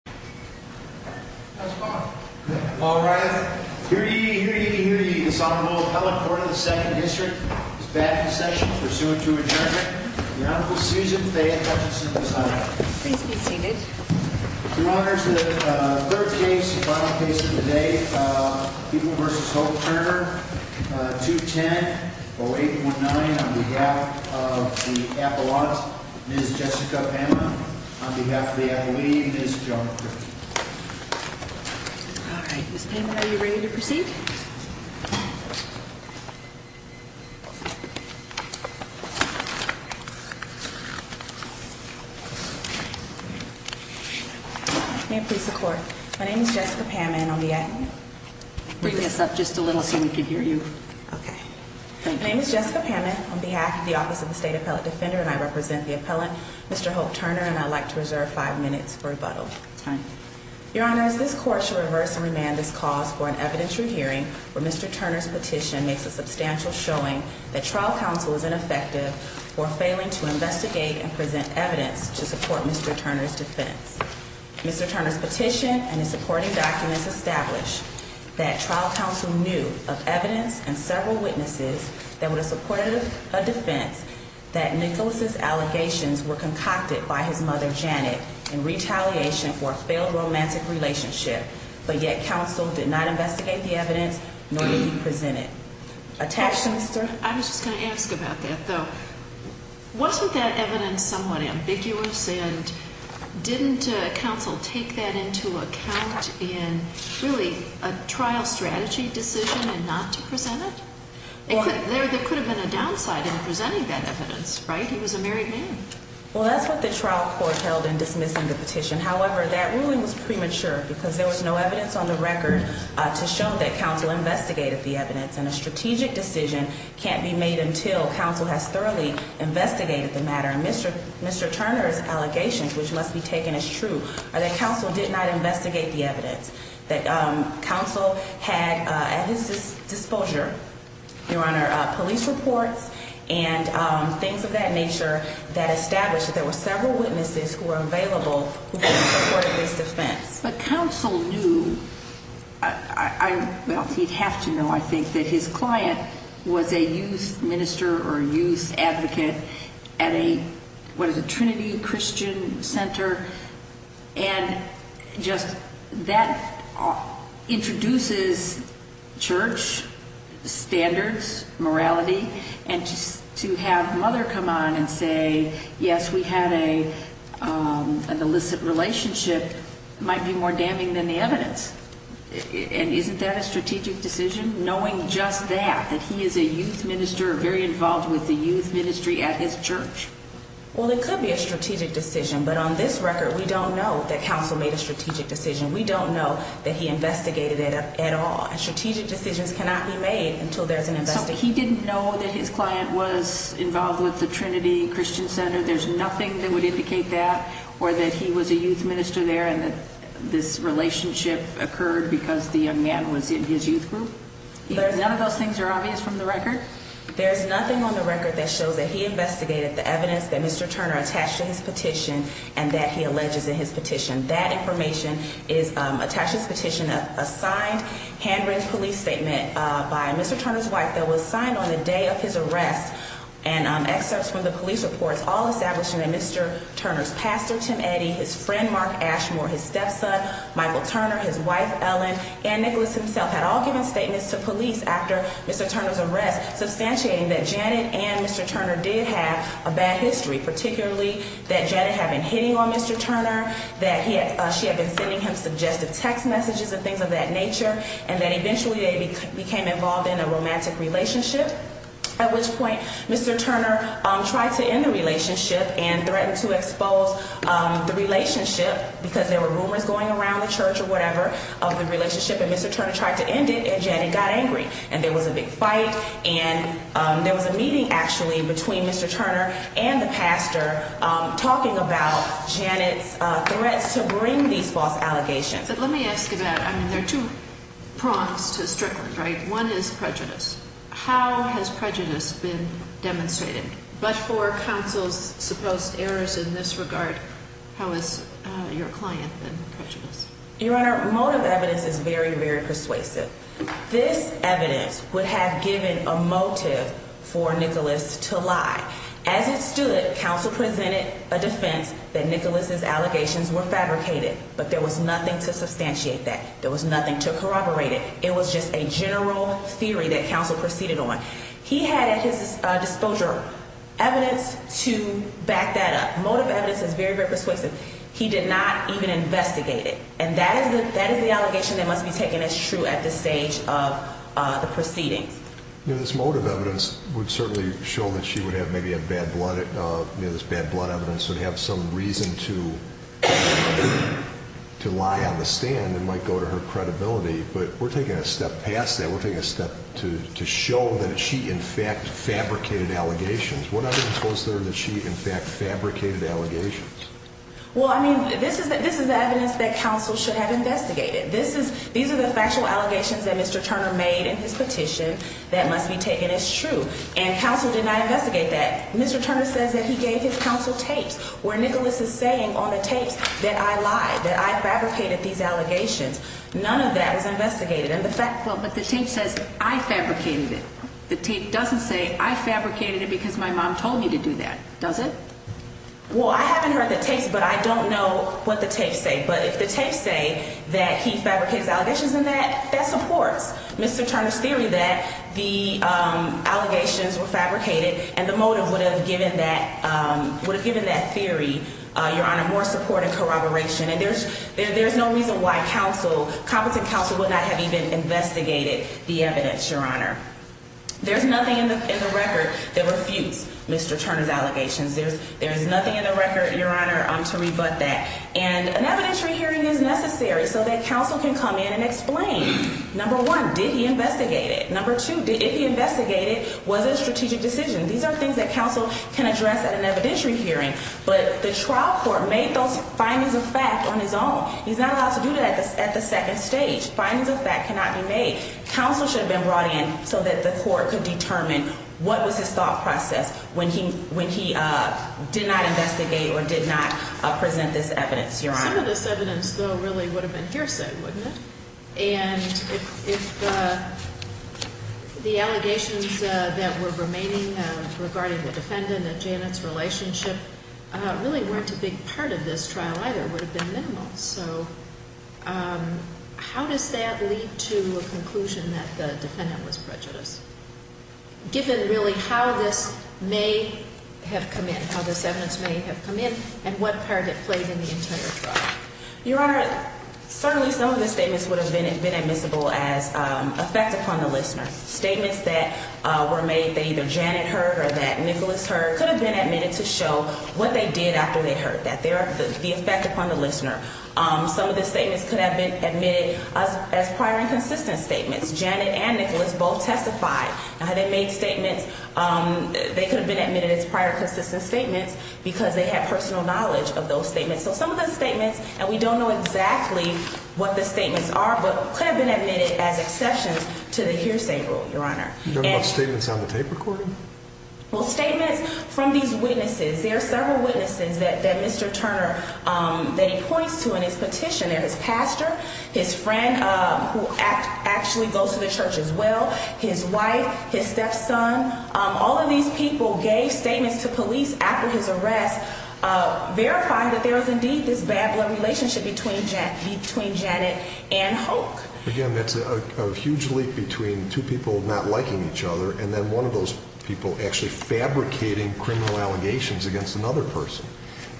210-0819 on behalf of the Apollons, Ms. Jessica Pamela, on behalf of the Apollini, Ms. Joan. All right, Ms. Pamela, are you ready to proceed? May it please the Court, my name is Jessica Pamela and on behalf of the State Appellate Defender, and I represent the appellant, Mr. Hope Turner, and I would like to reserve five minutes for rebuttal. Your Honor, this Court shall reverse and remand this cause for an evidentiary hearing where Mr. Turner's petition makes a substantial showing that trial counsel is ineffective for failing to investigate and present evidence to support Mr. Turner's defense. Mr. Turner's petition and his supporting documents establish that trial counsel knew of evidence and several witnesses that would have supported a defense that Nicholas's allegations were concocted by his mother, Janet, in retaliation for a failed romantic relationship, but yet counsel did not investigate the evidence, nor did he present it. Attachments, sir? I was just going to ask about that, though. Wasn't that evidence somewhat ambiguous, and didn't counsel take that into account in, really, a trial strategy decision and not to present it? There could have been a downside in presenting that evidence, right? He was a married man. Well, that's what the trial court held in dismissing the petition. However, that ruling was premature because there was no evidence on the record to show that counsel investigated the evidence, and a strategic decision can't be made until counsel has thoroughly investigated the matter. Mr. Turner's allegations, which must be taken as true, are that counsel did not investigate the evidence, that counsel had at his disclosure, Your Honor, police reports and things of that nature that established that there were several witnesses who were available who could have supported this defense. But counsel knew, well, he'd have to know, I think, that his client was a youth minister or youth advocate at a, what is it, Trinity Christian Center, and just that introduces church standards, morality, and to have Mother come on and say, yes, we had an illicit relationship might be more damning than the evidence. And isn't that a strategic decision, knowing just that, that he is a youth minister, very involved with the youth ministry at his church? Well, it could be a strategic decision, but on this record, we don't know that counsel made a strategic decision. We don't know that he investigated it at all. And strategic decisions cannot be made until there's an investigation. So he didn't know that his client was involved with the Trinity Christian Center? There's nothing that would indicate that? Or that he was a youth minister there and that this relationship occurred because the young man was in his youth group? None of those things are obvious from the record? There's nothing on the record that shows that he investigated the evidence that Mr. Turner attached to his petition and that he alleges in his petition. That information is attached to his petition, a signed handwritten police statement by Mr. Turner's wife that was signed on the day of his arrest, and excerpts from the police reports all established that Mr. Turner's pastor, Tim Eddy, his friend, Mark Ashmore, his stepson, Michael Turner, his wife, Ellen, and Nicholas himself had all given statements to police after Mr. Turner's arrest, substantiating that Janet and Mr. Turner did have a bad history, particularly that Janet had been hitting on Mr. Turner, that she had been sending him suggestive text messages and things of that nature, and that eventually they became involved in a romantic relationship, at which point Mr. Turner tried to end the relationship and threatened to expose the relationship because there were rumors going around the church or whatever of the relationship, and Mr. Turner tried to end it, and Janet got angry, and there was a big fight, and there was a meeting, actually, between Mr. Turner and the pastor talking about Janet's threats to bring these false allegations. But let me ask you that. I mean, there are two prongs to Strickland, right? One is prejudice. How has prejudice been demonstrated? But for counsel's supposed errors in this regard, how has your client been prejudiced? Your Honor, motive evidence is very, very persuasive. This evidence would have given a motive for Nicholas to lie. As it stood, counsel presented a defense that Nicholas's allegations were fabricated, but there was nothing to substantiate that. There was nothing to corroborate it. It was just a general theory that counsel proceeded on. He had at his disclosure evidence to back that up. Motive evidence is very, very persuasive. He did not even investigate it, and that is the allegation that must be taken as true at this stage of the proceedings. You know, this motive evidence would certainly show that she would have maybe had bad blood. You know, this bad blood evidence would have some reason to lie on the stand. It might go to her credibility, but we're taking a step past that. We're taking a step to show that she, in fact, fabricated allegations. What evidence was there that she, in fact, fabricated allegations? Well, I mean, this is the evidence that counsel should have investigated. These are the factual allegations that Mr. Turner made in his petition that must be taken as true, and counsel did not investigate that. Mr. Turner says that he gave his counsel tapes where Nicholas is saying on the tapes that I lied, that I fabricated these allegations. None of that was investigated. Well, but the tape says I fabricated it. The tape doesn't say I fabricated it because my mom told me to do that, does it? Well, I haven't heard the tapes, but I don't know what the tapes say. But if the tapes say that he fabricates allegations in that, that supports Mr. Turner's theory that the allegations were fabricated, and the motive would have given that theory, Your Honor, more support and corroboration. And there's no reason why counsel, competent counsel, would not have even investigated the evidence, Your Honor. There's nothing in the record that refutes Mr. Turner's allegations. There's nothing in the record, Your Honor, to rebut that. And an evidentiary hearing is necessary so that counsel can come in and explain. Number one, did he investigate it? Number two, did he investigate it? Was it a strategic decision? These are things that counsel can address at an evidentiary hearing. But the trial court made those findings of fact on his own. He's not allowed to do that at the second stage. Findings of fact cannot be made. Counsel should have been brought in so that the court could determine what was his thought process when he did not investigate or did not present this evidence, Your Honor. Some of this evidence, though, really would have been hearsay, wouldn't it? And if the allegations that were remaining regarding the defendant and Janet's relationship really weren't a big part of this trial either, would have been minimal. So how does that lead to a conclusion that the defendant was prejudiced, given really how this may have come in, how this evidence may have come in, and what part it played in the entire trial? Your Honor, certainly some of the statements would have been admissible as effect upon the listener. Statements that were made that either Janet heard or that Nicholas heard could have been admitted to show what they did after they heard, the effect upon the listener. Some of the statements could have been admitted as prior and consistent statements. Janet and Nicholas both testified. Now, they made statements, they could have been admitted as prior consistent statements because they had personal knowledge of those statements. So some of the statements, and we don't know exactly what the statements are, but could have been admitted as exceptions to the hearsay rule, Your Honor. You don't know about statements on the tape recording? Well, statements from these witnesses. There are several witnesses that Mr. Turner, that he points to in his petition. There's his pastor, his friend who actually goes to the church as well, his wife, his stepson. All of these people gave statements to police after his arrest, verifying that there was indeed this bad blood relationship between Janet and Hoke. Again, that's a huge leap between two people not liking each other and then one of those people actually fabricating criminal allegations against another person.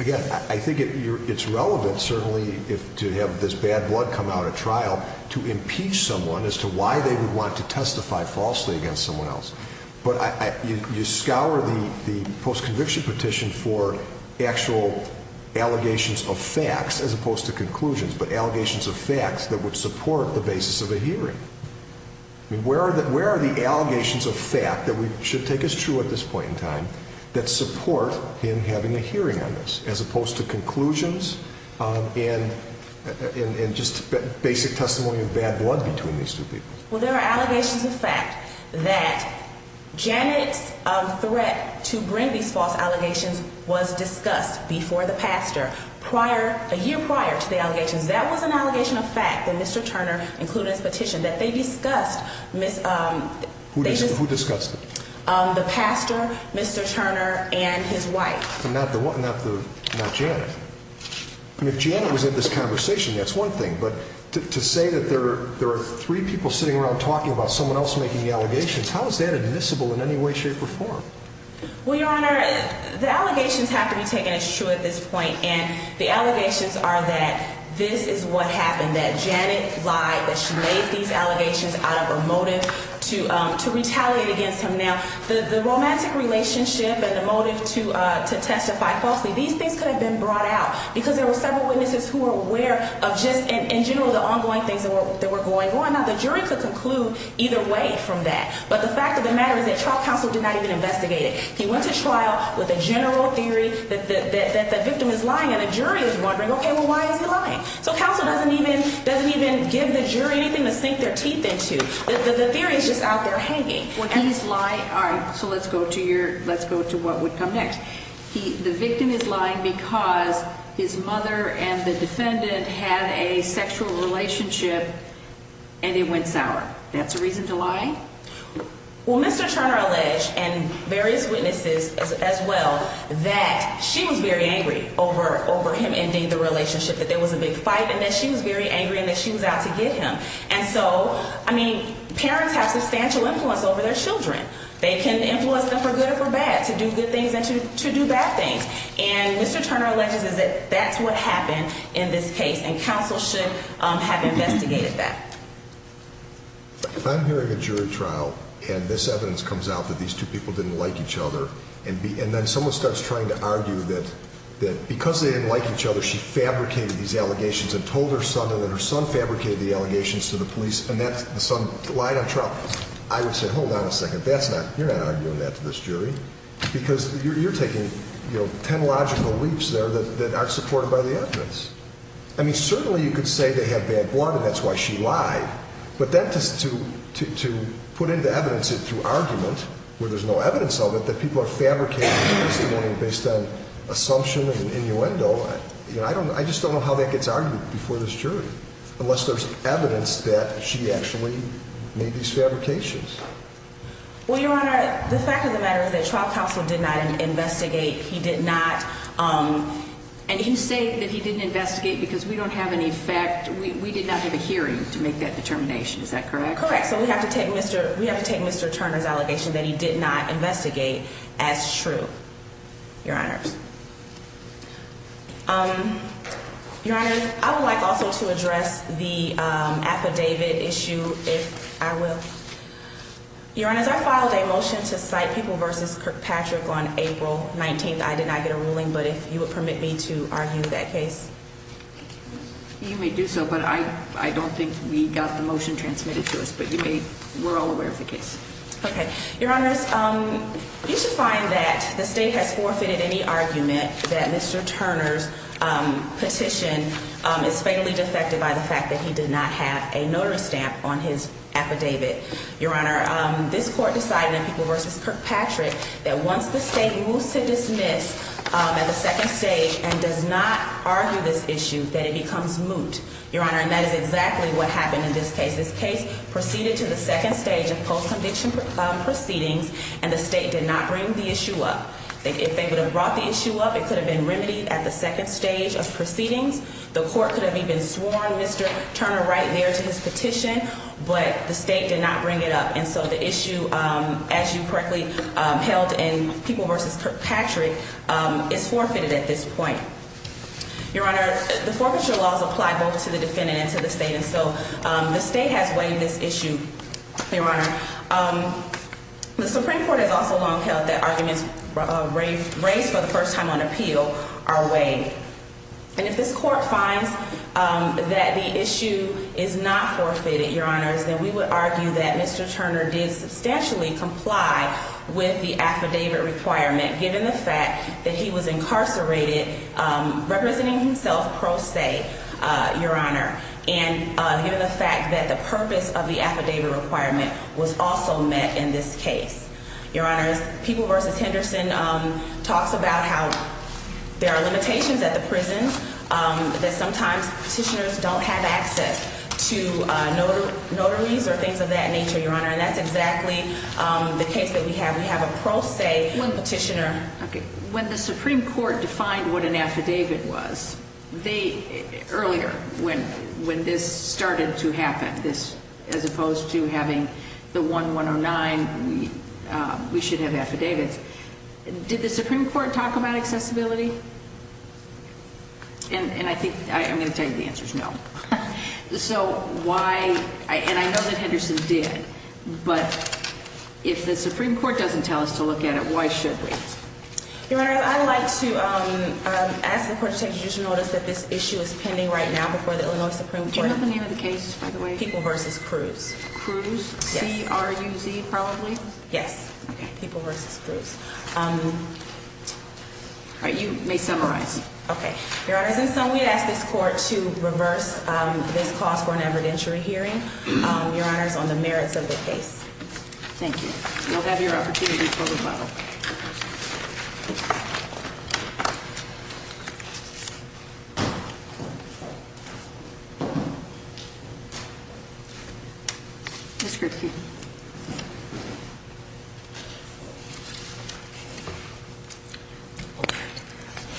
Again, I think it's relevant, certainly, to have this bad blood come out at trial to impeach someone as to why they would want to testify falsely against someone else. But you scour the post-conviction petition for actual allegations of facts as opposed to conclusions, but allegations of facts that would support the basis of a hearing. Where are the allegations of fact that should take us true at this point in time that support him having a hearing on this as opposed to conclusions and just basic testimony of bad blood between these two people? Well, there are allegations of fact that Janet's threat to bring these false allegations was discussed before the pastor, a year prior to the allegations. That was an allegation of fact that Mr. Turner included in his petition that they discussed. Who discussed it? The pastor, Mr. Turner, and his wife. Not Janet. And if Janet was in this conversation, that's one thing. But to say that there are three people sitting around talking about someone else making the allegations, how is that admissible in any way, shape, or form? Well, Your Honor, the allegations have to be taken as true at this point. And the allegations are that this is what happened, that Janet lied, that she made these allegations out of a motive to retaliate against him. Now, the romantic relationship and the motive to testify falsely, these things could have been brought out. Because there were several witnesses who were aware of just, in general, the ongoing things that were going on. Now, the jury could conclude either way from that. But the fact of the matter is that trial counsel did not even investigate it. He went to trial with a general theory that the victim is lying and the jury is wondering, okay, well, why is he lying? So counsel doesn't even give the jury anything to sink their teeth into. The theory is just out there hanging. Well, he's lying. All right, so let's go to what would come next. The victim is lying because his mother and the defendant had a sexual relationship and it went sour. That's a reason to lie? Well, Mr. Turner alleged, and various witnesses as well, that she was very angry over him ending the relationship, that there was a big fight, and that she was very angry and that she was out to get him. And so, I mean, parents have substantial influence over their children. They can influence them for good or for bad to do good things and to do bad things. And Mr. Turner alleges that that's what happened in this case, and counsel should have investigated that. If I'm hearing a jury trial and this evidence comes out that these two people didn't like each other, and then someone starts trying to argue that because they didn't like each other she fabricated these allegations and told her son that her son fabricated the allegations to the police and that the son lied on trial, I would say, hold on a second, that's not, you're not arguing that to this jury, because you're taking, you know, technological leaps there that aren't supported by the evidence. I mean, certainly you could say they have bad blood and that's why she lied, but then to put into evidence it through argument where there's no evidence of it, that people are fabricating testimony based on assumption and innuendo, I just don't know how that gets argued before this jury unless there's evidence that she actually made these fabrications. Well, Your Honor, the fact of the matter is that trial counsel did not investigate. He did not, and you say that he didn't investigate because we don't have any fact, we did not have a hearing to make that determination, is that correct? Correct, so we have to take Mr. Turner's allegation that he did not investigate as true, Your Honors. Your Honors, I would like also to address the affidavit issue if I will. Your Honors, I filed a motion to cite People v. Kirkpatrick on April 19th. I did not get a ruling, but if you would permit me to argue that case. You may do so, but I don't think we got the motion transmitted to us, but you may, we're all aware of the case. Okay, Your Honors, you should find that the state has forfeited any argument that Mr. Turner's petition is fatally defected by the fact that he did not have a notice stamp on his affidavit. Your Honor, this court decided in People v. Kirkpatrick that once the state moves to dismiss at the second stage and does not argue this issue, that it becomes moot. Your Honor, and that is exactly what happened in this case. This case proceeded to the second stage of post-conviction proceedings, and the state did not bring the issue up. If they would have brought the issue up, it could have been remedied at the second stage of proceedings. The court could have even sworn Mr. Turner right there to his petition, but the state did not bring it up. And so the issue, as you correctly held in People v. Kirkpatrick, is forfeited at this point. Your Honor, the forfeiture laws apply both to the defendant and to the state, and so the state has waived this issue. Your Honor, the Supreme Court has also long held that arguments raised for the first time on appeal are waived. And if this court finds that the issue is not forfeited, Your Honor, then we would argue that Mr. Turner did substantially comply with the affidavit requirement, given the fact that he was incarcerated representing himself pro se, Your Honor, and given the fact that the purpose of the affidavit requirement was also met in this case. Your Honor, People v. Henderson talks about how there are limitations at the prison, that sometimes petitioners don't have access to notaries or things of that nature, Your Honor, and that's exactly the case that we have. We have a pro se petitioner. Okay. When the Supreme Court defined what an affidavit was, earlier, when this started to happen, as opposed to having the 1-109, we should have affidavits, did the Supreme Court talk about accessibility? And I think, I'm going to tell you the answer is no. So why, and I know that Henderson did, but if the Supreme Court doesn't tell us to look at it, why should we? Your Honor, I'd like to ask the court to take additional notice that this issue is pending right now before the Illinois Supreme Court. Do you have the name of the case, by the way? People v. Cruz. Cruz? Yes. C-R-U-Z, probably? Yes. Okay. People v. Cruz. All right, you may summarize. Okay. Your Honor, and so we'd ask this court to reverse this clause for an evidentiary hearing, Your Honor, on the merits of the case. Thank you. You'll have your opportunity for rebuttal. Thank you. Ms. Kripke.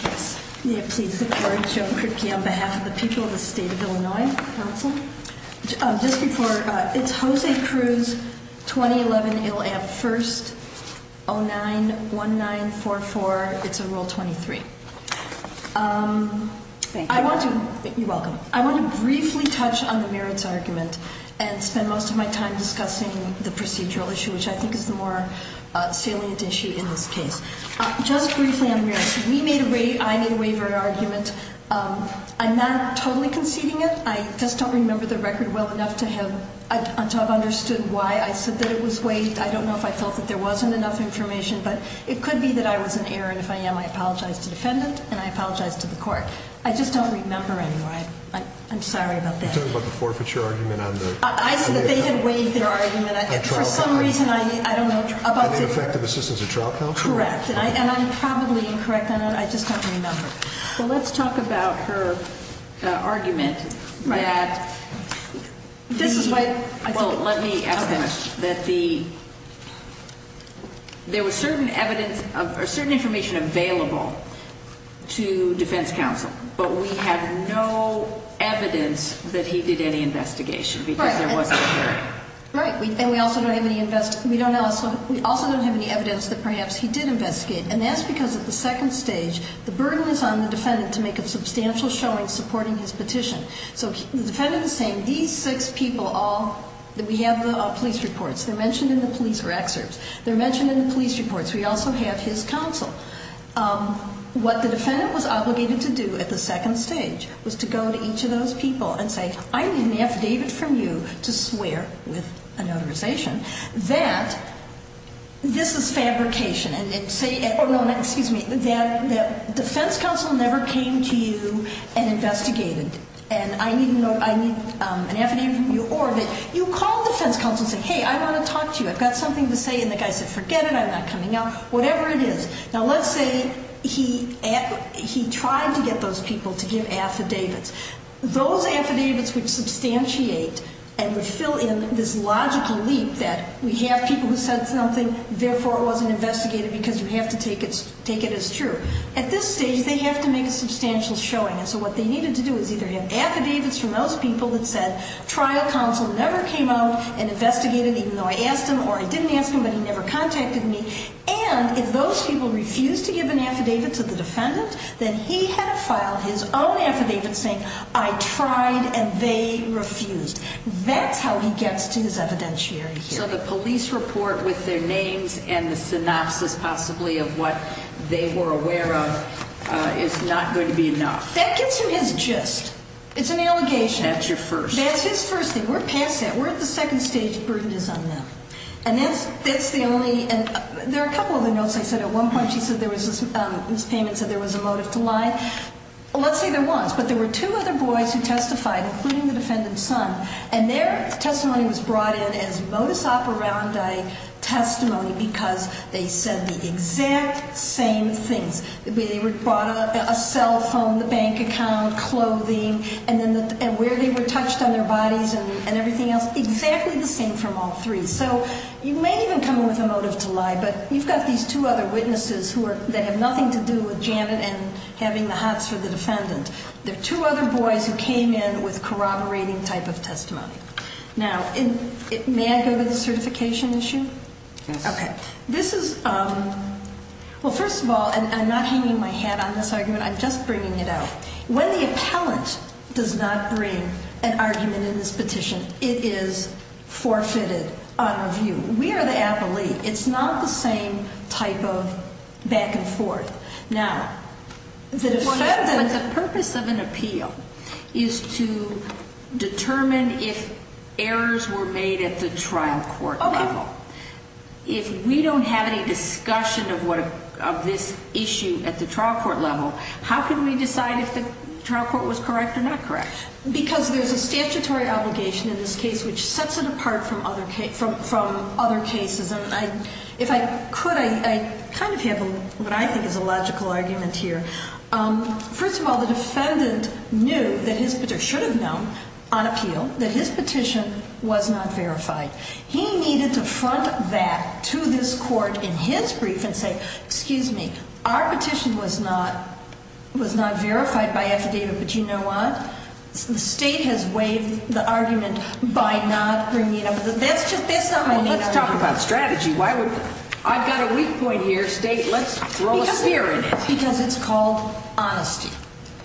Yes. May it please the court, Joan Kripke, on behalf of the people of the State of Illinois Council. Just before, it's Jose Cruz, 2011, IL-AM, first 09-1944, it's a rule 23. Thank you. You're welcome. I want to briefly touch on the merits argument and spend most of my time discussing the procedural issue, which I think is the more salient issue in this case. Just briefly on merits, we made a waiver argument. I'm not totally conceding it. I just don't remember the record well enough to have understood why I said that it was waived. I don't know if I felt that there wasn't enough information, but it could be that I was in error. And if I am, I apologize to the defendant and I apologize to the court. I just don't remember anymore. I'm sorry about that. You're talking about the forfeiture argument on the trial counsel? I said that they had waived their argument. For some reason, I don't know. And the effective assistance of trial counsel? Correct. And I'm probably incorrect on that. I just don't remember. Well, let's talk about her argument. Right. Well, let me ask a question. Okay. There was certain information available to defense counsel, but we have no evidence that he did any investigation because there wasn't a hearing. Right. And we also don't have any evidence that perhaps he did investigate. And that's because at the second stage, the burden is on the defendant to make a substantial showing supporting his petition. So the defendant is saying, these six people all, we have the police reports. They're mentioned in the police, or excerpts. They're mentioned in the police reports. We also have his counsel. What the defendant was obligated to do at the second stage was to go to each of those people and say, I need an affidavit from you to swear with a notarization that this is fabrication. And say, or no, excuse me, that defense counsel never came to you and investigated. And I need an affidavit from you or that you called defense counsel and said, hey, I want to talk to you. I've got something to say. And the guy said, forget it. I'm not coming out. Whatever it is. Now, let's say he tried to get those people to give affidavits. Those affidavits would substantiate and would fill in this logical leap that we have people who said something, therefore it wasn't investigated because you have to take it as true. At this stage, they have to make a substantial showing. And so what they needed to do is either have affidavits from those people that said trial counsel never came out and investigated, even though I asked him or I didn't ask him, but he never contacted me. And if those people refused to give an affidavit to the defendant, then he had to file his own affidavit saying I tried and they refused. That's how he gets to his evidentiary here. So the police report with their names and the synopsis possibly of what they were aware of is not going to be enough. That gets him his gist. It's an allegation. That's your first. That's his first thing. We're past that. We're at the second stage. The burden is on them. And that's the only – there are a couple of other notes. I said at one point she said there was – Ms. Payman said there was a motive to lie. Let's say there was, but there were two other boys who testified, including the defendant's son, and their testimony was brought in as modus operandi testimony because they said the exact same things. They brought a cell phone, the bank account, clothing, and where they were touched on their bodies and everything else, exactly the same from all three. So you may even come in with a motive to lie, but you've got these two other witnesses that have nothing to do with Janet and having the hots for the defendant. They're two other boys who came in with corroborating type of testimony. Now, may I go to the certification issue? Yes. Okay. This is – well, first of all, and I'm not hanging my hat on this argument. I'm just bringing it out. When the appellant does not bring an argument in this petition, it is forfeited on review. We are the appellee. It's not the same type of back and forth. Now, the defendant – But the purpose of an appeal is to determine if errors were made at the trial court level. Okay. If we don't have any discussion of this issue at the trial court level, how can we decide if the trial court was correct or not correct? Because there's a statutory obligation in this case which sets it apart from other cases. If I could, I kind of have what I think is a logical argument here. First of all, the defendant knew that his – or should have known on appeal that his petition was not verified. He needed to front that to this court in his brief and say, excuse me, our petition was not verified by affidavit, but you know what? The state has waived the argument by not bringing up – that's not my main argument. Well, let's talk about strategy. Why would – I've got a weak point here. State, let's throw a spear in it. Because it's called honesty.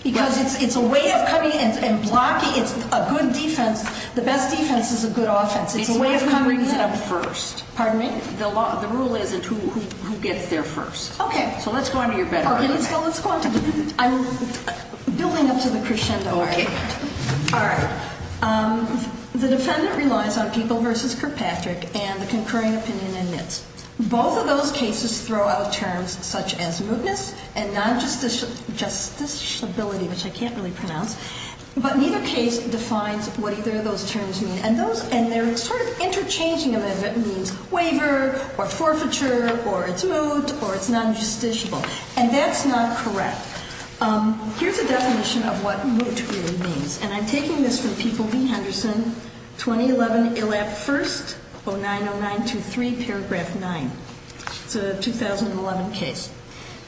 Because it's a way of coming and blocking. It's a good defense. The best defense is a good offense. It's a way of coming in. It's who brings it up first. Pardon me? The rule isn't who gets there first. Okay. So let's go on to your better argument. Well, let's go on to the – I'm building up to the crescendo argument. Okay. All right. The defendant relies on People v. Kirkpatrick and the concurring opinion in NITS. Both of those cases throw out terms such as mootness and non-justiciability, which I can't really pronounce. But neither case defines what either of those terms mean. And those – and they're sort of interchanging them as it means waiver or forfeiture or it's moot or it's non-justiciable. And that's not correct. Here's a definition of what moot really means. And I'm taking this from People v. Henderson, 2011 ILAP First, 090923, paragraph 9. It's a 2011 case.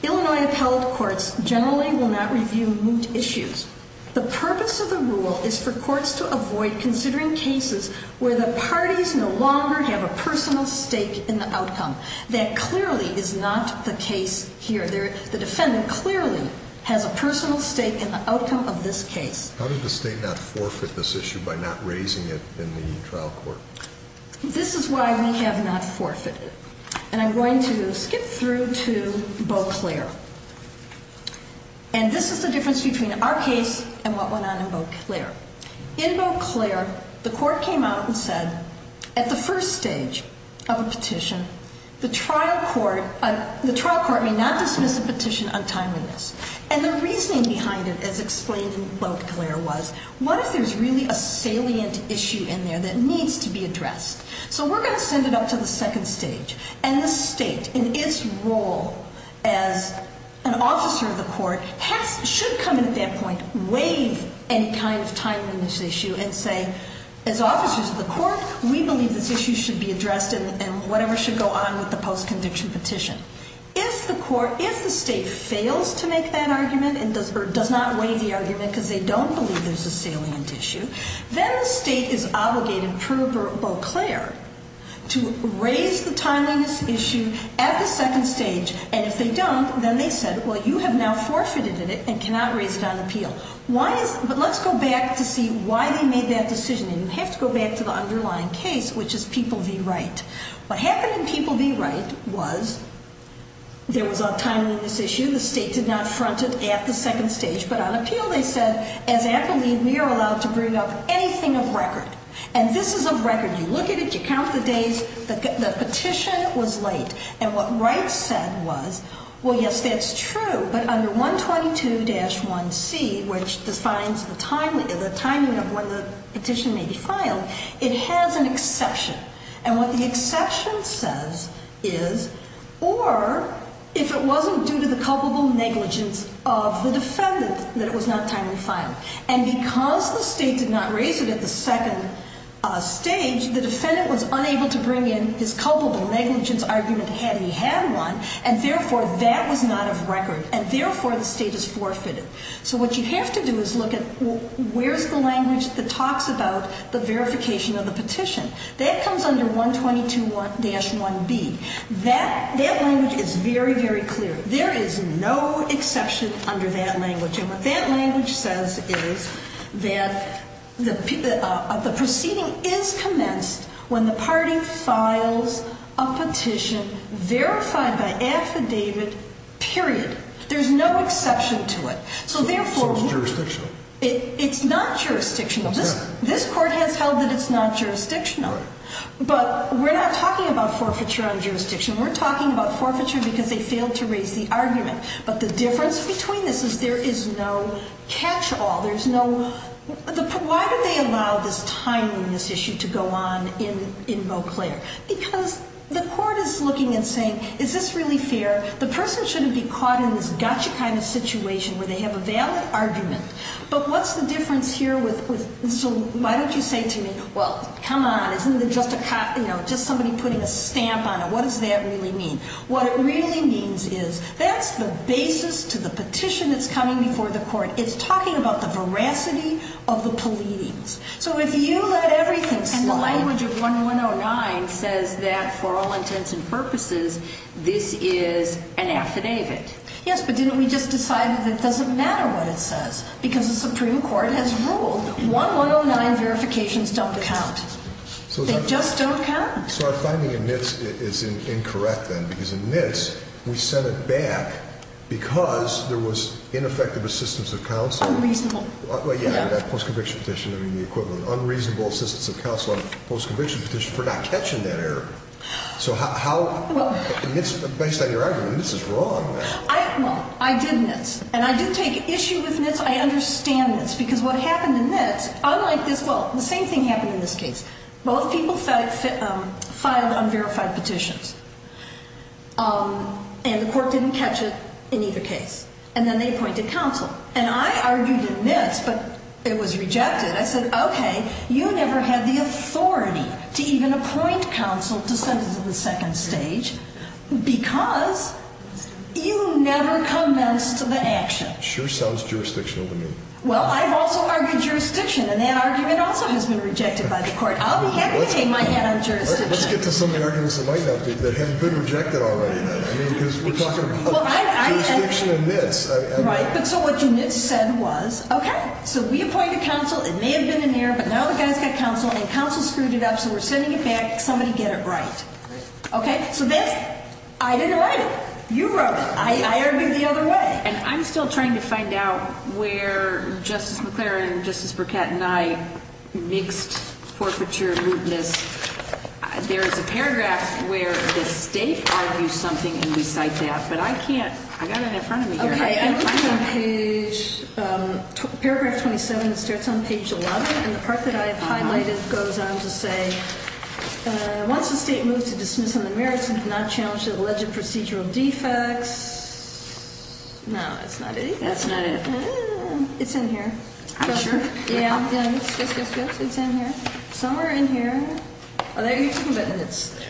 Illinois appellate courts generally will not review moot issues. The purpose of the rule is for courts to avoid considering cases where the parties no longer have a personal stake in the outcome. That clearly is not the case here. The defendant clearly has a personal stake in the outcome of this case. How did the state not forfeit this issue by not raising it in the trial court? This is why we have not forfeited. And I'm going to skip through to Beauclair. And this is the difference between our case and what went on in Beauclair. In Beauclair, the court came out and said at the first stage of a petition, the trial court may not dismiss a petition untimely. And the reasoning behind it, as explained in Beauclair, was what if there's really a salient issue in there that needs to be addressed? So we're going to send it up to the second stage. And the state, in its role as an officer of the court, should come in at that point, waive any kind of timeliness issue, and say, as officers of the court, we believe this issue should be addressed and whatever should go on with the post-conviction petition. If the state fails to make that argument or does not waive the argument because they don't believe there's a salient issue, then the state is obligated, per Beauclair, to raise the timeliness issue at the second stage. And if they don't, then they said, well, you have now forfeited it and cannot raise it on appeal. But let's go back to see why they made that decision. And you have to go back to the underlying case, which is People v. Wright. What happened in People v. Wright was there was a timeliness issue. The state did not front it at the second stage. But on appeal, they said, as attorney, we are allowed to bring up anything of record. And this is of record. You look at it. You count the days. The petition was late. And what Wright said was, well, yes, that's true. But under 122-1C, which defines the timing of when the petition may be filed, it has an exception. And what the exception says is, or if it wasn't due to the culpable negligence of the defendant that it was not timely filed. And because the state did not raise it at the second stage, the defendant was unable to bring in his culpable negligence argument had he had one. And, therefore, that was not of record. And, therefore, the state has forfeited. So what you have to do is look at where's the language that talks about the verification of the petition. That comes under 122-1B. That language is very, very clear. There is no exception under that language. And what that language says is that the proceeding is commenced when the party files a petition verified by affidavit, period. There's no exception to it. So, therefore, it's not jurisdictional. This court has held that it's not jurisdictional. But we're not talking about forfeiture on jurisdiction. We're talking about forfeiture because they failed to raise the argument. But the difference between this is there is no catch-all. Why did they allow this timeliness issue to go on in Beauclair? Because the court is looking and saying, is this really fair? The person shouldn't be caught in this gotcha kind of situation where they have a valid argument. But what's the difference here with so why don't you say to me, well, come on, isn't it just somebody putting a stamp on it? What does that really mean? What it really means is that's the basis to the petition that's coming before the court. It's talking about the veracity of the pleadings. So if you let everything slide. And the language of 1109 says that for all intents and purposes, this is an affidavit. Yes, but didn't we just decide that it doesn't matter what it says? Because the Supreme Court has ruled 1109 verifications don't count. They just don't count. So our finding in NITS is incorrect then because in NITS we sent it back because there was ineffective assistance of counsel. Unreasonable. Well, yeah, that post-conviction petition, I mean, the equivalent. Unreasonable assistance of counsel on a post-conviction petition for not catching that error. So how NITS, based on your argument, NITS is wrong. Well, I did NITS. And I do take issue with NITS. I understand NITS because what happened in NITS, unlike this, well, the same thing happened in this case. Both people filed unverified petitions. And the court didn't catch it in either case. And then they appointed counsel. And I argued in NITS, but it was rejected. I said, okay, you never had the authority to even appoint counsel to sentence of the second stage because you never commenced the action. Sure sounds jurisdictional to me. Well, I've also argued jurisdiction. And that argument also has been rejected by the court. I'll be happy to take my hat on jurisdiction. Let's get to some of the arguments that might have been rejected already then. I mean, because we're talking about jurisdiction in NITS. Right. But so what you NITS said was, okay, so we appointed counsel. It may have been an error, but now the guy's got counsel. And counsel screwed it up, so we're sending it back. Somebody get it right. Okay? So this, I didn't write it. You wrote it. I argued the other way. And I'm still trying to find out where Justice McClaren and Justice Burkett and I mixed forfeiture, rudeness. There is a paragraph where the state argues something, and we cite that. But I can't. I've got it in front of me here. I'm looking on page ‑‑ paragraph 27. It starts on page 11. And the part that I have highlighted goes on to say, once the state moves to dismiss on the merits and not challenge the alleged procedural defects. No, that's not it either. That's not it. It's in here. Are you sure? Yeah. Yes, yes, yes. It's in here. Somewhere in here. Oh, there you go. But it's there.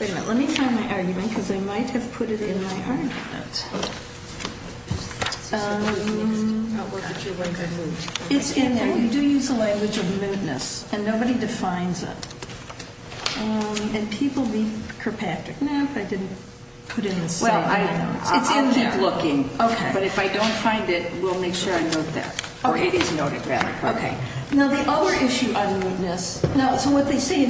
Wait a minute. Let me find my argument, because I might have put it in my argument. It's in there. You do use the language of mootness. And nobody defines it. And people be Kirkpatrick. No, I didn't put it in the same way. It's in there. I'll keep looking. Okay. But if I don't find it, we'll make sure I note that. Or it is noted, rather. Okay. Now, the other issue on mootness. Now, so what they say,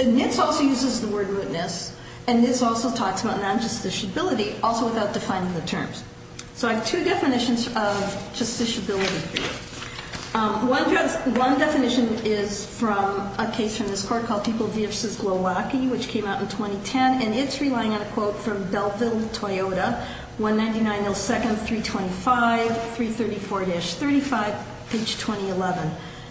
NITS also uses the word mootness. And NITS also talks about non-justiciability, also without defining the terms. So I have two definitions of justiciability here. One definition is from a case from this court called People v. Milwaukee, which came out in 2010. And it's relying on a quote from Belfield-Toyota, 199-02-325-334-35, page 2011,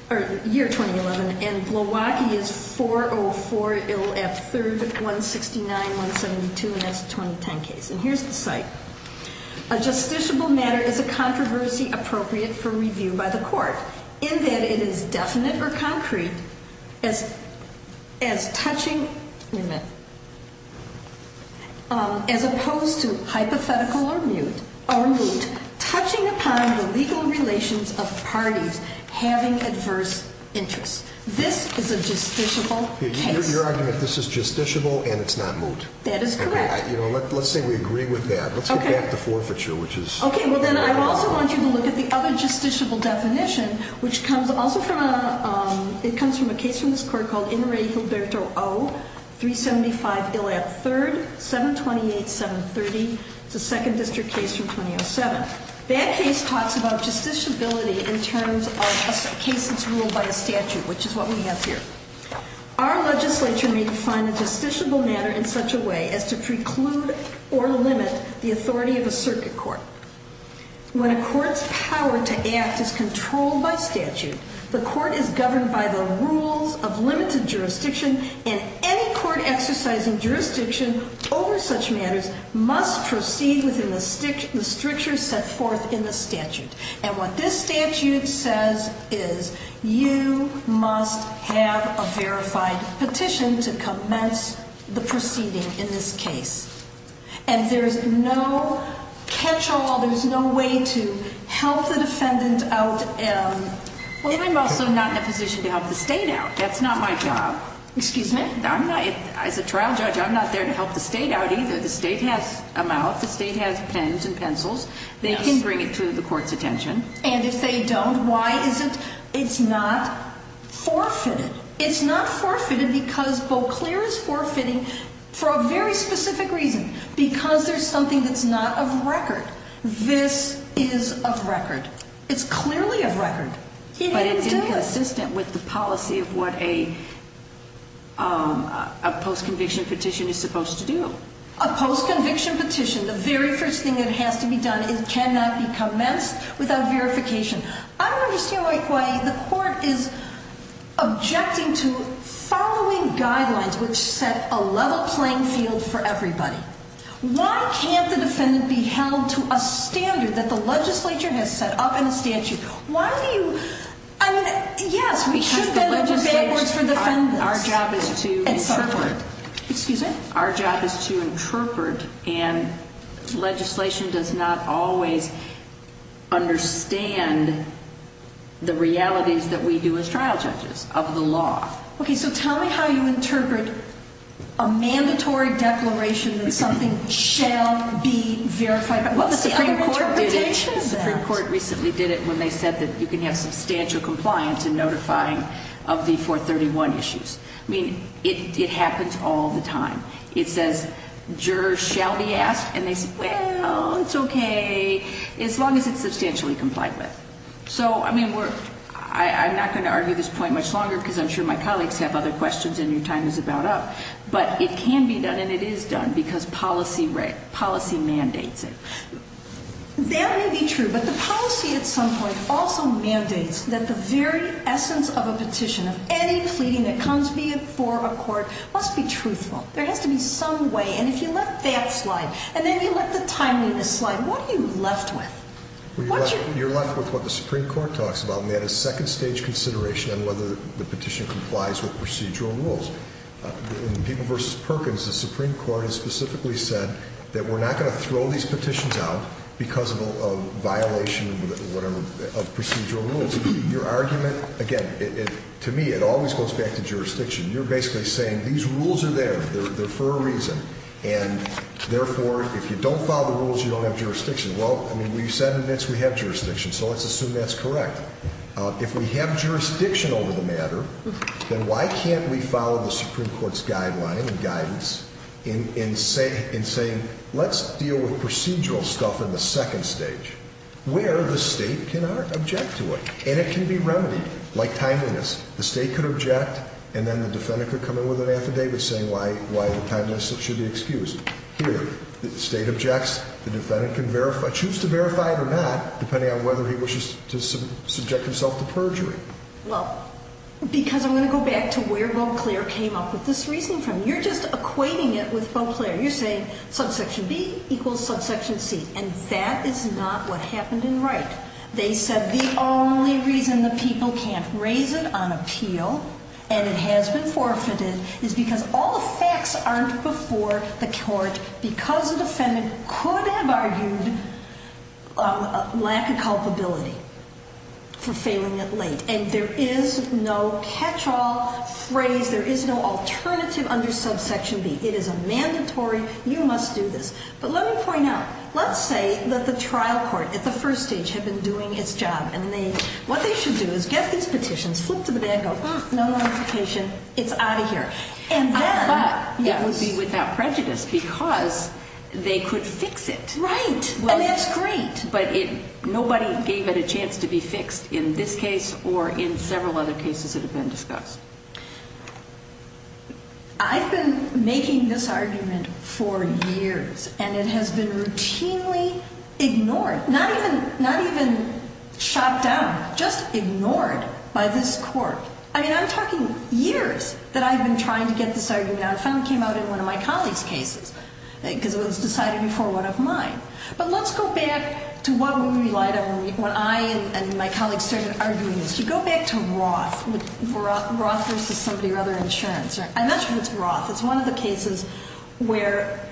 or year 2011. And Milwaukee is 404-169-172, and that's a 2010 case. And here's the cite. A justiciable matter is a controversy appropriate for review by the court in that it is definite or concrete as touching as opposed to hypothetical or moot, touching upon the legal relations of parties having adverse interests. This is a justiciable case. Your argument, this is justiciable and it's not moot. That is correct. Let's say we agree with that. Let's go back to forfeiture. Okay. Well, then I also want you to look at the other justiciable definition, which comes also from a case from this court called Inouye-Gilberto O, 375-3, 728-730. It's a second district case from 2007. That case talks about justiciability in terms of a case that's ruled by a statute, which is what we have here. Our legislature may define a justiciable matter in such a way as to preclude or limit the authority of a circuit court. When a court's power to act is controlled by statute, the court is governed by the rules of limited jurisdiction, and any court exercising jurisdiction over such matters must proceed within the stricture set forth in the statute. And what this statute says is you must have a verified petition to commence the proceeding in this case. And there's no catch-all. There's no way to help the defendant out. Well, I'm also not in a position to help the state out. That's not my job. Excuse me? I'm not. As a trial judge, I'm not there to help the state out either. The state has a mouth. The state has pens and pencils. They can bring it to the court's attention. And if they don't, why is it it's not forfeited? It's not forfeited because Beauclair is forfeiting for a very specific reason, because there's something that's not of record. This is of record. It's clearly of record. But it's inconsistent with the policy of what a post-conviction petition is supposed to do. A post-conviction petition, the very first thing that has to be done, it cannot be commenced without verification. I don't understand why the court is objecting to following guidelines which set a level playing field for everybody. Why can't the defendant be held to a standard that the legislature has set up in the statute? Why do you – I mean, yes, we should bend over backwards for defendants and so forth. Excuse me? Our job is to interpret, and legislation does not always understand the realities that we do as trial judges of the law. Okay, so tell me how you interpret a mandatory declaration that something shall be verified. Well, the Supreme Court did it. The Supreme Court recently did it when they said that you can have substantial compliance in notifying of the 431 issues. I mean, it happens all the time. It says jurors shall be asked, and they say, well, it's okay, as long as it's substantially complied with. So, I mean, we're – I'm not going to argue this point much longer because I'm sure my colleagues have other questions and your time is about up. But it can be done and it is done because policy mandates it. That may be true, but the policy at some point also mandates that the very essence of a petition, of any pleading that comes before a court, must be truthful. There has to be some way, and if you let that slide and then you let the timeliness slide, what are you left with? Well, you're left with what the Supreme Court talks about, and they had a second-stage consideration on whether the petition complies with procedural rules. In People v. Perkins, the Supreme Court has specifically said that we're not going to throw these petitions out because of violation of procedural rules. Your argument – again, to me, it always goes back to jurisdiction. You're basically saying these rules are there. They're for a reason, and therefore, if you don't follow the rules, you don't have jurisdiction. Well, I mean, we said in this we have jurisdiction, so let's assume that's correct. If we have jurisdiction over the matter, then why can't we follow the Supreme Court's guideline and guidance in saying, let's deal with procedural stuff in the second stage, where the state can object to it, and it can be remedied. Like timeliness, the state could object, and then the defendant could come in with an affidavit saying why the timeliness should be excused. Here, the state objects. The defendant can choose to verify it or not, depending on whether he wishes to subject himself to perjury. Well, because I'm going to go back to where Beauclair came up with this reasoning from. You're just equating it with Beauclair. You're saying subsection B equals subsection C, and that is not what happened in Wright. They said the only reason the people can't raise it on appeal, and it has been forfeited, is because all the facts aren't before the court because the defendant could have argued lack of culpability for failing it late. And there is no catch-all phrase. There is no alternative under subsection B. It is a mandatory, you must do this. But let me point out, let's say that the trial court at the first stage had been doing its job, and what they should do is get these petitions, flip to the back, go, no notification, it's out of here. I thought it would be without prejudice because they could fix it. Right, and that's great. But nobody gave it a chance to be fixed in this case or in several other cases that have been discussed. I've been making this argument for years, and it has been routinely ignored, not even shot down, just ignored by this court. I mean, I'm talking years that I've been trying to get this argument out. It finally came out in one of my colleagues' cases because it was decided before one of mine. But let's go back to what we relied on when I and my colleagues started arguing this. If you go back to Roth versus somebody or other insurance, I mentioned it's Roth. It's one of the cases where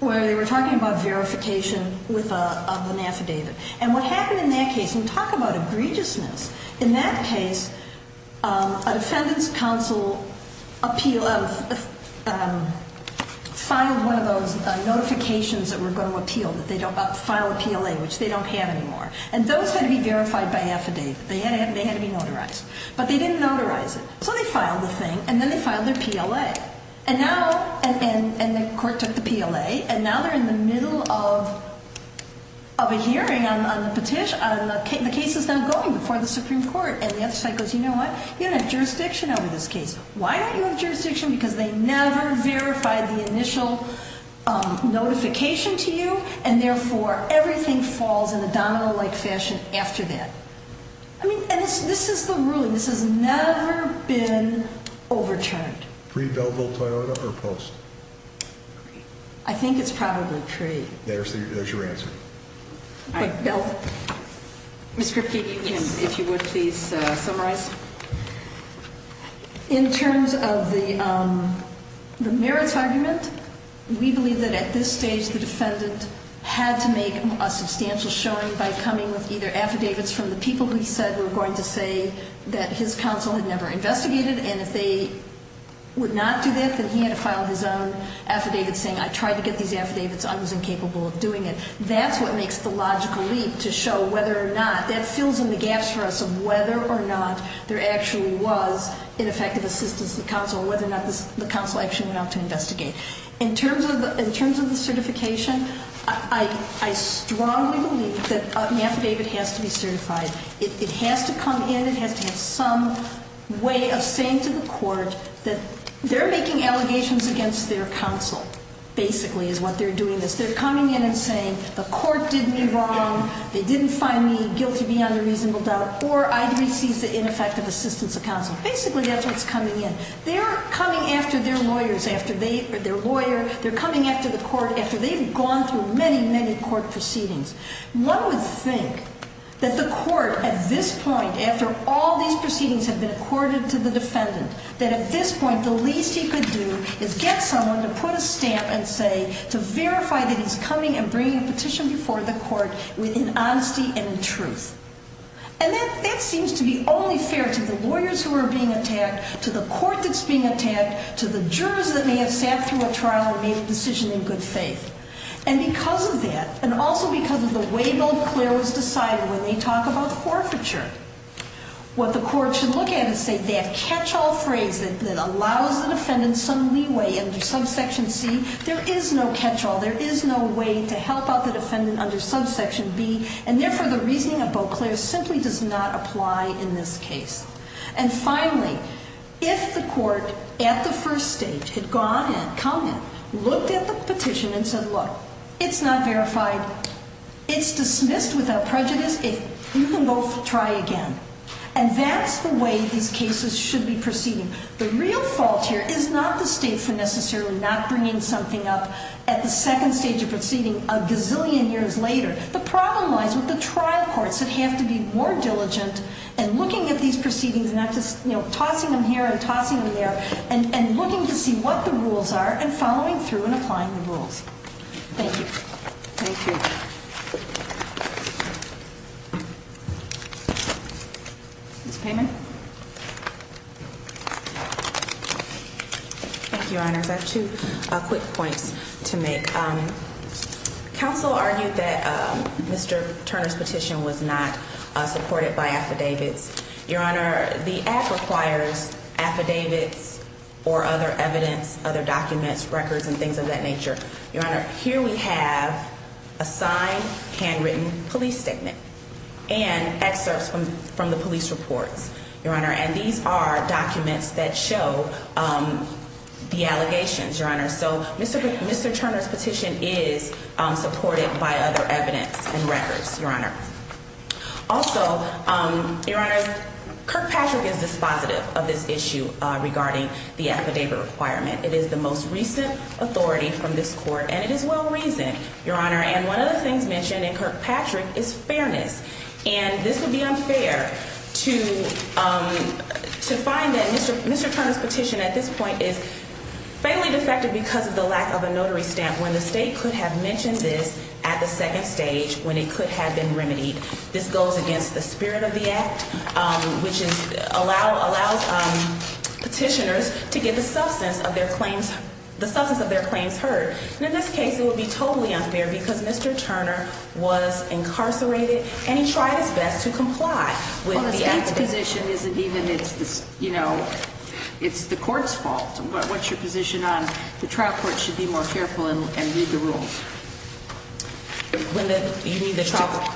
they were talking about verification of an affidavit. And what happened in that case, and we talk about egregiousness, in that case, a defendant's counsel filed one of those notifications that were going to appeal, that they don't file a PLA, which they don't have anymore. And those had to be verified by affidavit. They had to be notarized. But they didn't notarize it. So they filed the thing, and then they filed their PLA. And the court took the PLA, and now they're in the middle of a hearing on the petition. The case is now going before the Supreme Court. And the other side goes, you know what, you don't have jurisdiction over this case. Why don't you have jurisdiction? Because they never verified the initial notification to you, and therefore, everything falls in a domino-like fashion after that. I mean, and this is the ruling. This has never been overturned. Pre-Belleville-Toyota or post? I think it's probably pre. There's your answer. All right. Miss Griffey, if you would please summarize. In terms of the merits argument, we believe that at this stage, the defendant had to make a substantial showing by coming with either affidavits from the people who he said were going to say that his counsel had never investigated, and if they would not do that, then he had to file his own affidavit saying, I tried to get these affidavits. I was incapable of doing it. That's what makes the logical leap to show whether or not that fills in the gaps for us of whether or not there actually was ineffective assistance to the counsel or whether or not the counsel actually went out to investigate. In terms of the certification, I strongly believe that an affidavit has to be certified. It has to come in. It has to have some way of saying to the court that they're making allegations against their counsel, basically, is what they're doing this. They're coming in and saying the court did me wrong. They didn't find me guilty beyond a reasonable doubt, or I received the ineffective assistance of counsel. Basically, that's what's coming in. They're coming after their lawyers, after their lawyer. They're coming after the court after they've gone through many, many court proceedings. One would think that the court, at this point, after all these proceedings have been accorded to the defendant, that at this point the least he could do is get someone to put a stamp and say, to verify that he's coming and bringing a petition before the court within honesty and truth. And that seems to be only fair to the lawyers who are being attacked, to the court that's being attacked, to the jurors that may have sat through a trial and made a decision in good faith. And because of that, and also because of the way Bill Clair was decided when they talk about forfeiture, what the court should look at is say that catch-all phrase that allows the defendant some leeway under subsection C, there is no catch-all. There is no way to help out the defendant under subsection B, and therefore the reasoning of Bill Clair simply does not apply in this case. And finally, if the court at the first stage had gone and come and looked at the petition and said, look, it's not verified, it's dismissed without prejudice, you can go try again. And that's the way these cases should be proceeding. The real fault here is not the state for necessarily not bringing something up at the second stage of proceeding a gazillion years later. The problem lies with the trial courts that have to be more diligent and looking at these proceedings, not just tossing them here and tossing them there, and looking to see what the rules are and following through and applying the rules. Thank you. Thank you. Ms. Payman. Thank you, Your Honors. I have two quick points to make. Counsel argued that Mr. Turner's petition was not supported by affidavits. Your Honor, the Act requires affidavits or other evidence, other documents, records, and things of that nature. Your Honor, here we have a signed, handwritten police statement and excerpts from the police reports. Your Honor, and these are documents that show the allegations, Your Honor. So Mr. Turner's petition is supported by other evidence and records, Your Honor. Also, Your Honor, Kirkpatrick is dispositive of this issue regarding the affidavit requirement. It is the most recent authority from this court, and it is well-reasoned, Your Honor. And one of the things mentioned in Kirkpatrick is fairness, and this would be unfair to find that Mr. Turner's petition at this point is faintly defective because of the lack of a notary stamp, when the state could have mentioned this at the second stage when it could have been remedied. This goes against the spirit of the Act, which allows petitioners to get the substance of their claims heard. And in this case, it would be totally unfair because Mr. Turner was incarcerated, and he tried his best to comply with the Act. Well, the state's position isn't even, you know, it's the court's fault. What's your position on the trial court should be more careful and read the rules? When you mean the trial court?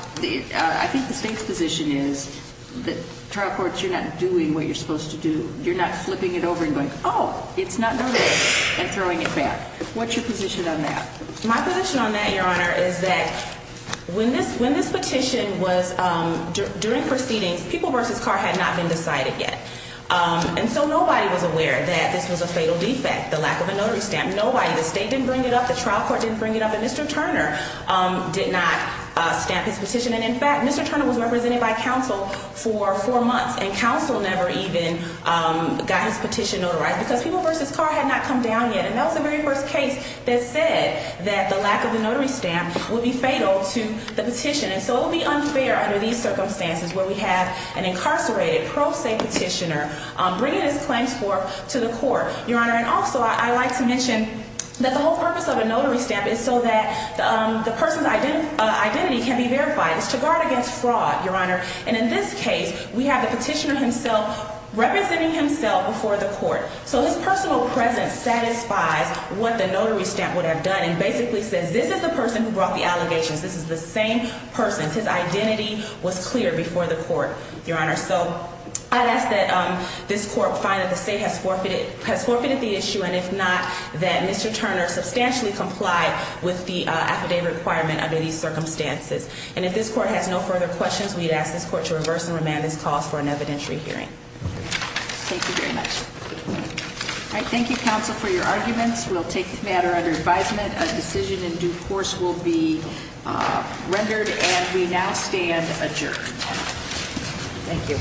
I think the state's position is that trial courts, you're not doing what you're supposed to do. You're not flipping it over and going, oh, it's not notary, and throwing it back. What's your position on that? My position on that, Your Honor, is that when this petition was during proceedings, people versus car had not been decided yet. And so nobody was aware that this was a fatal defect, the lack of a notary stamp. Nobody, the state didn't bring it up, the trial court didn't bring it up, and Mr. Turner did not stamp his petition. And in fact, Mr. Turner was represented by counsel for four months, and counsel never even got his petition notarized because people versus car had not come down yet. And that was the very first case that said that the lack of the notary stamp would be fatal to the petition. And so it would be unfair under these circumstances where we have an incarcerated pro se petitioner bringing his claims forth to the court, Your Honor. And also, I'd like to mention that the whole purpose of a notary stamp is so that the person's identity can be verified. It's to guard against fraud, Your Honor. And in this case, we have the petitioner himself representing himself before the court. So his personal presence satisfies what the notary stamp would have done and basically says, this is the person who brought the allegations. This is the same person. His identity was clear before the court, Your Honor. So I'd ask that this court find that the state has forfeited the issue. And if not, that Mr. Turner substantially comply with the affidavit requirement under these circumstances. And if this court has no further questions, we'd ask this court to reverse and remand this cause for an evidentiary hearing. Thank you very much. All right, thank you, counsel, for your arguments. We'll take the matter under advisement. A decision in due course will be rendered, and we now stand adjourned. Thank you.